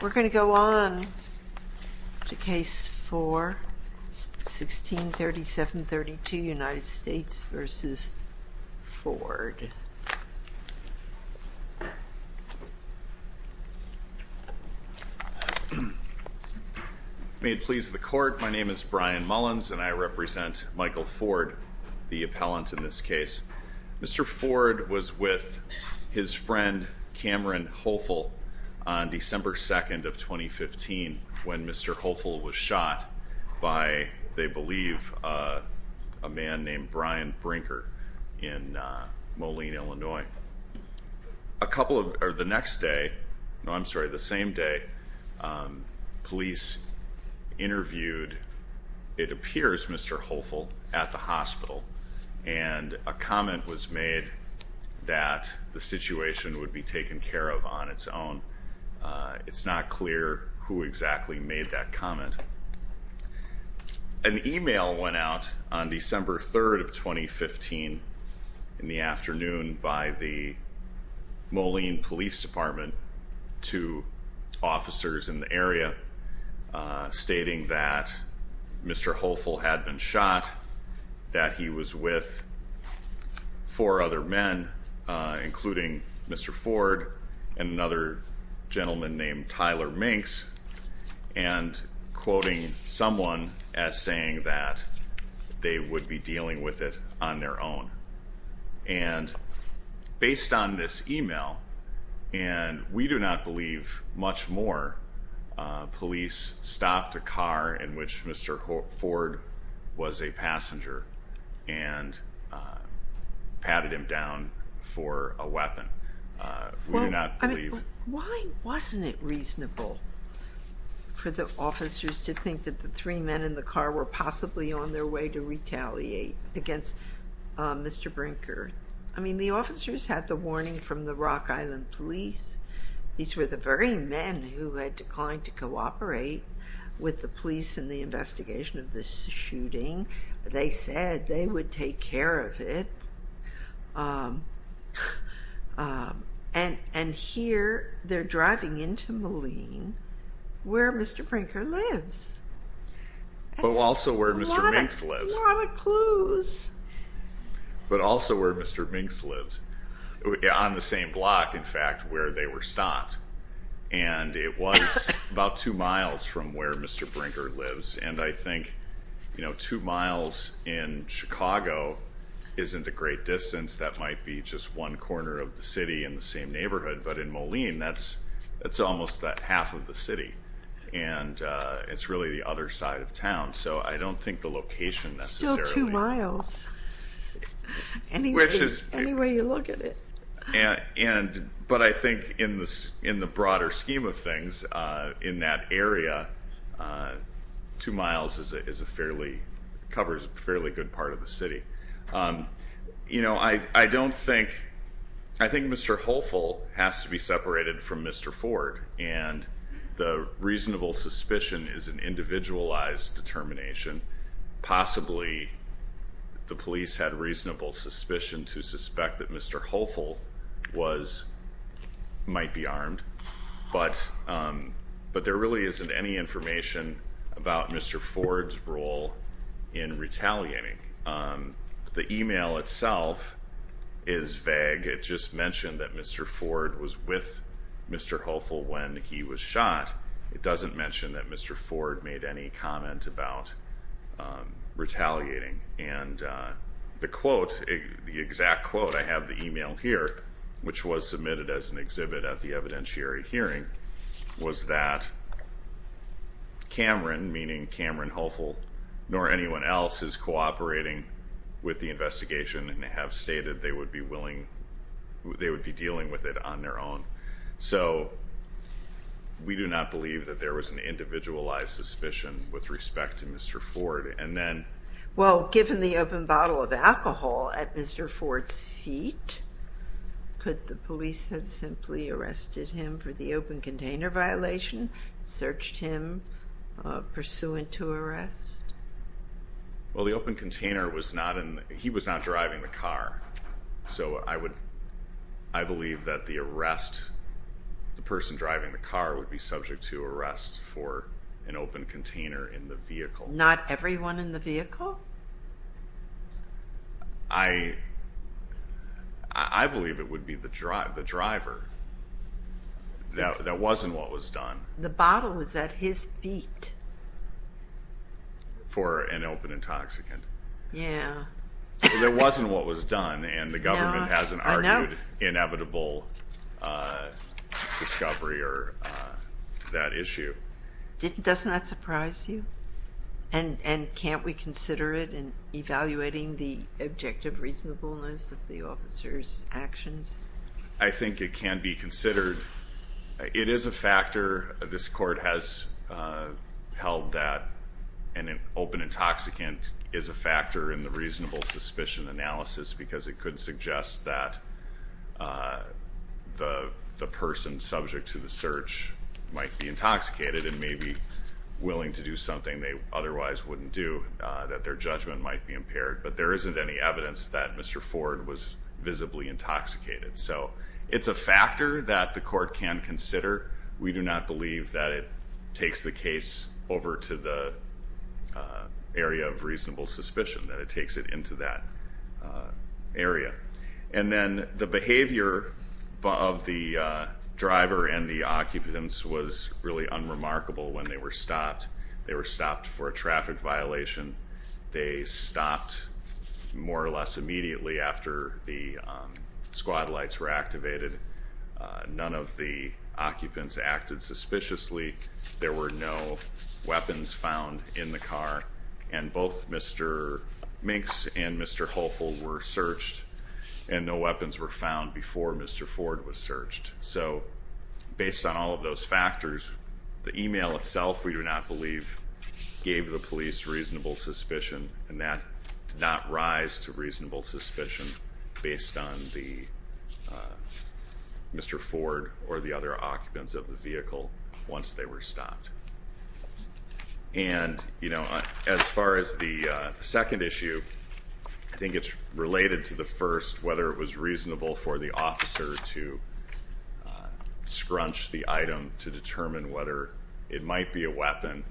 We're going to go on to case 4, 1637-32, United States v. Ford. May it please the court, my name is Brian Mullins and I represent Michael Ford, the appellant in this case. Mr. Ford was with his friend Cameron Hoefel on December 2nd of 2015 when Mr. Hoefel was shot by, they believe, a man named Brian Brinker in Moline, Illinois. The next day, no, I'm sorry, the same day, police interviewed, it appears, Mr. Hoefel at the hospital and a comment was made that the situation would be taken care of on its own. It's not clear who exactly made that comment. An email went out on December 3rd of 2015 in the afternoon by the Moline Police Department to officers in the area stating that Mr. Hoefel had been shot, that he was with four other men, including Mr. Ford and another gentleman named Tyler Minx, and quoting someone as saying that they would be dealing with it on their own. And based on this email, and we do not believe much more, police stopped a car in which Mr. Ford was a passenger and patted him down for a weapon. We do not believe. Why wasn't it reasonable for the officers to think that the three men in the car were possibly on their way to retaliate against Mr. Brinker? I mean, the officers had the warning from the Rock Island Police. These were the very men who had declined to cooperate with the police in the investigation of this shooting. They said they would take care of it. And here they're driving into Moline where Mr. Brinker lives. But also where Mr. Minx lives. A lot of clues. But also where Mr. Minx lives. On the same block, in fact, where they were stopped. And it was about two miles from where Mr. Brinker lives. And I think, you know, two miles in Chicago isn't a great distance. That might be just one corner of the city in the same neighborhood. But in Moline, that's almost that half of the city. And it's really the other side of town. So I don't think the location necessarily. Still two miles. Anywhere you look at it. But I think in the broader scheme of things, in that area, two miles is a fairly, covers a fairly good part of the city. You know, I don't think, I think Mr. Holfill has to be separated from Mr. Ford. And the reasonable suspicion is an individualized determination. Possibly the police had reasonable suspicion to suspect that Mr. Holfill was, might be armed. But there really isn't any information about Mr. Ford's role in retaliating. The email itself is vague. It just mentioned that Mr. Ford was with Mr. Holfill when he was shot. It doesn't mention that Mr. Ford made any comment about retaliating. And the quote, the exact quote, I have the email here, which was submitted as an exhibit at the evidentiary hearing, was that Cameron, meaning Cameron Holfill, nor anyone else is cooperating with the investigation and have stated they would be willing, they would be dealing with it on their own. So we do not believe that there was an individualized suspicion with respect to Mr. Ford. And then... Well, given the open bottle of alcohol at Mr. Ford's feet, could the police have simply arrested him for the open container violation, searched him pursuant to arrest? Well, the open container was not in, he was not driving the car. So I would, I believe that the arrest, the person driving the car would be subject to arrest for an open container in the vehicle. Not everyone in the vehicle? I, I believe it would be the driver. That wasn't what was done. The bottle was at his feet. For an open intoxicant. Yeah. There wasn't what was done and the government hasn't argued inevitable discovery or that issue. Doesn't that surprise you? And, and can't we consider it in evaluating the objective reasonableness of the officer's actions? I think it can be considered. It is a factor, this court has held that an open intoxicant is a factor in the reasonable suspicion analysis because it could suggest that the person subject to the search might be intoxicated and may be willing to do something they otherwise wouldn't do, that their judgment might be impaired. But there isn't any evidence that Mr. Ford was visibly intoxicated. So it's a factor that the court can consider. We do not believe that it takes the case over to the area of reasonable suspicion, that it takes it into that area. And then the behavior of the driver and the occupants was really unremarkable when they were stopped. They were stopped for a traffic violation. They stopped more or less immediately after the squad lights were activated. None of the occupants acted suspiciously. There were no weapons found in the car. And both Mr. Minx and Mr. Holfill were searched and no weapons were found before Mr. Ford was searched. So based on all of those factors, the email itself we do not believe gave the police reasonable suspicion and that did not rise to reasonable suspicion based on Mr. Ford or the other occupants of the vehicle once they were stopped. And, you know, as far as the second issue, I think it's related to the first, whether it was reasonable for the officer to scrunch the item to determine whether it might be a weapon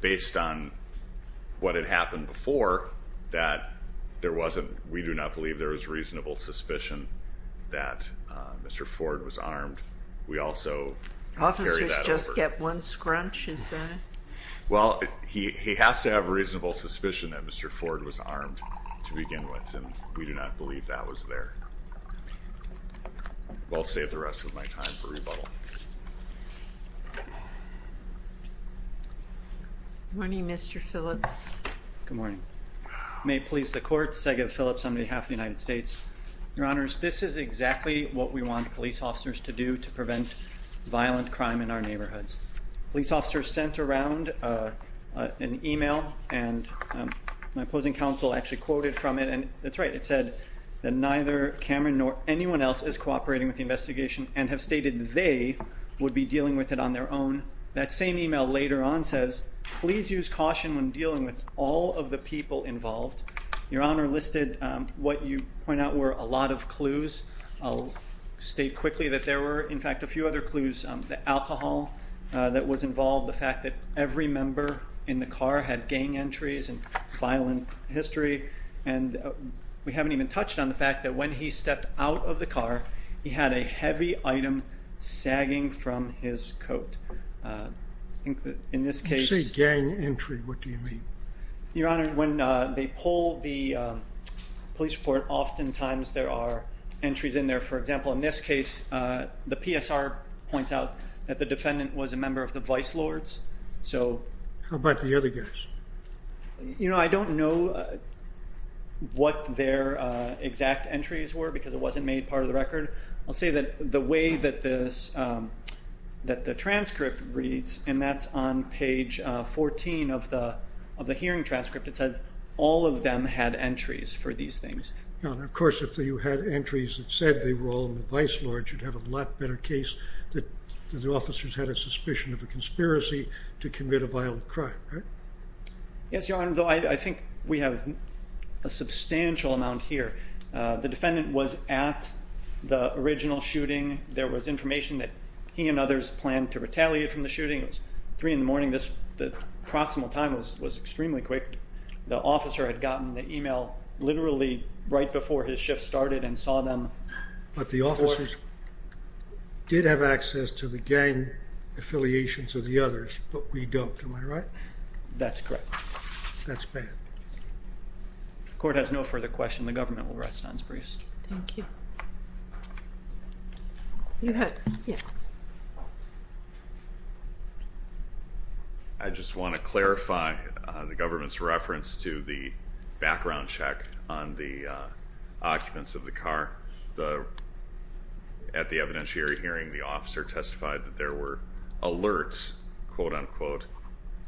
based on what had happened before that there wasn't, we do not believe there was reasonable suspicion that Mr. Ford was armed. We also carry that over. Officers just get one scrunch, is that it? Well, he has to have reasonable suspicion that Mr. Ford was armed to begin with, and we do not believe that was there. I'll save the rest of my time for rebuttal. Good morning, Mr. Phillips. Good morning. May it please the court, Sega Phillips on behalf of the United States. Your Honors, this is exactly what we want police officers to do to prevent violent crime in our neighborhoods. Police officers sent around an email, and my opposing counsel actually quoted from it, and that's right, it said that neither Cameron nor anyone else is cooperating with the investigation and have stated they would be dealing with it on their own. That same email later on says, please use caution when dealing with all of the people involved. Your Honor, listed what you point out were a lot of clues. I'll state quickly that there were, in fact, a few other clues. The alcohol that was involved, the fact that every member in the car had gang entries and violent history, and we haven't even touched on the fact that when he stepped out of the car, he had a heavy item sagging from his coat. I think that in this case. When you say gang entry, what do you mean? Your Honor, when they pull the police report, oftentimes there are entries in there. For example, in this case, the PSR points out that the defendant was a member of the Vice Lords, so. How about the other guys? You know, I don't know what their exact entries were because it wasn't made part of the record. I'll say that the way that the transcript reads, and that's on page 14 of the hearing transcript, it says all of them had entries for these things. Your Honor, of course, if you had entries that said they were all in the Vice Lords, you'd have a lot better case that the officers had a suspicion of a conspiracy to commit a violent crime, right? Yes, Your Honor, though I think we have a substantial amount here. The defendant was at the original shooting. There was information that he and others planned to retaliate from the shooting. It was 3 in the morning. The proximal time was extremely quick. The officer had gotten the email literally right before his shift started and saw them. But the officers did have access to the gang affiliations of the others, but we don't. Am I right? That's correct. That's bad. The court has no further questions. The government will rest on its briefs. Thank you. I just want to clarify the government's reference to the background check on the occupants of the car. At the evidentiary hearing, the officer testified that there were alerts, quote-unquote,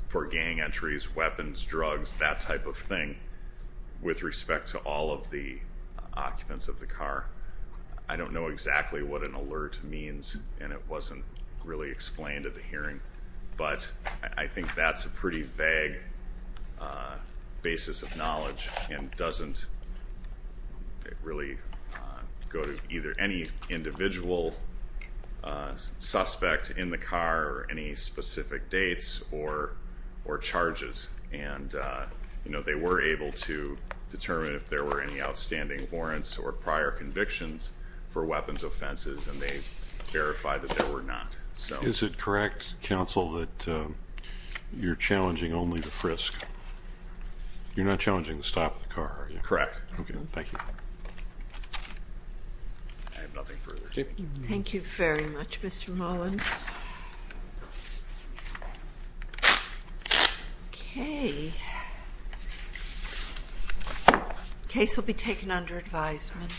for gang entries, weapons, drugs, that type of thing with respect to all of the occupants of the car. I don't know exactly what an alert means, and it wasn't really explained at the hearing. But I think that's a pretty vague basis of knowledge and doesn't really go to either any individual suspect in the car or any specific dates or charges. And they were able to determine if there were any outstanding warrants or prior convictions for weapons offenses, and they verified that there were not. Is it correct, counsel, that you're challenging only the frisk? You're not challenging the stop of the car, are you? Correct. Okay, thank you. I have nothing further to say. Thank you. Thank you very much, Mr. Mullins. Okay. Case will be taken under advisement.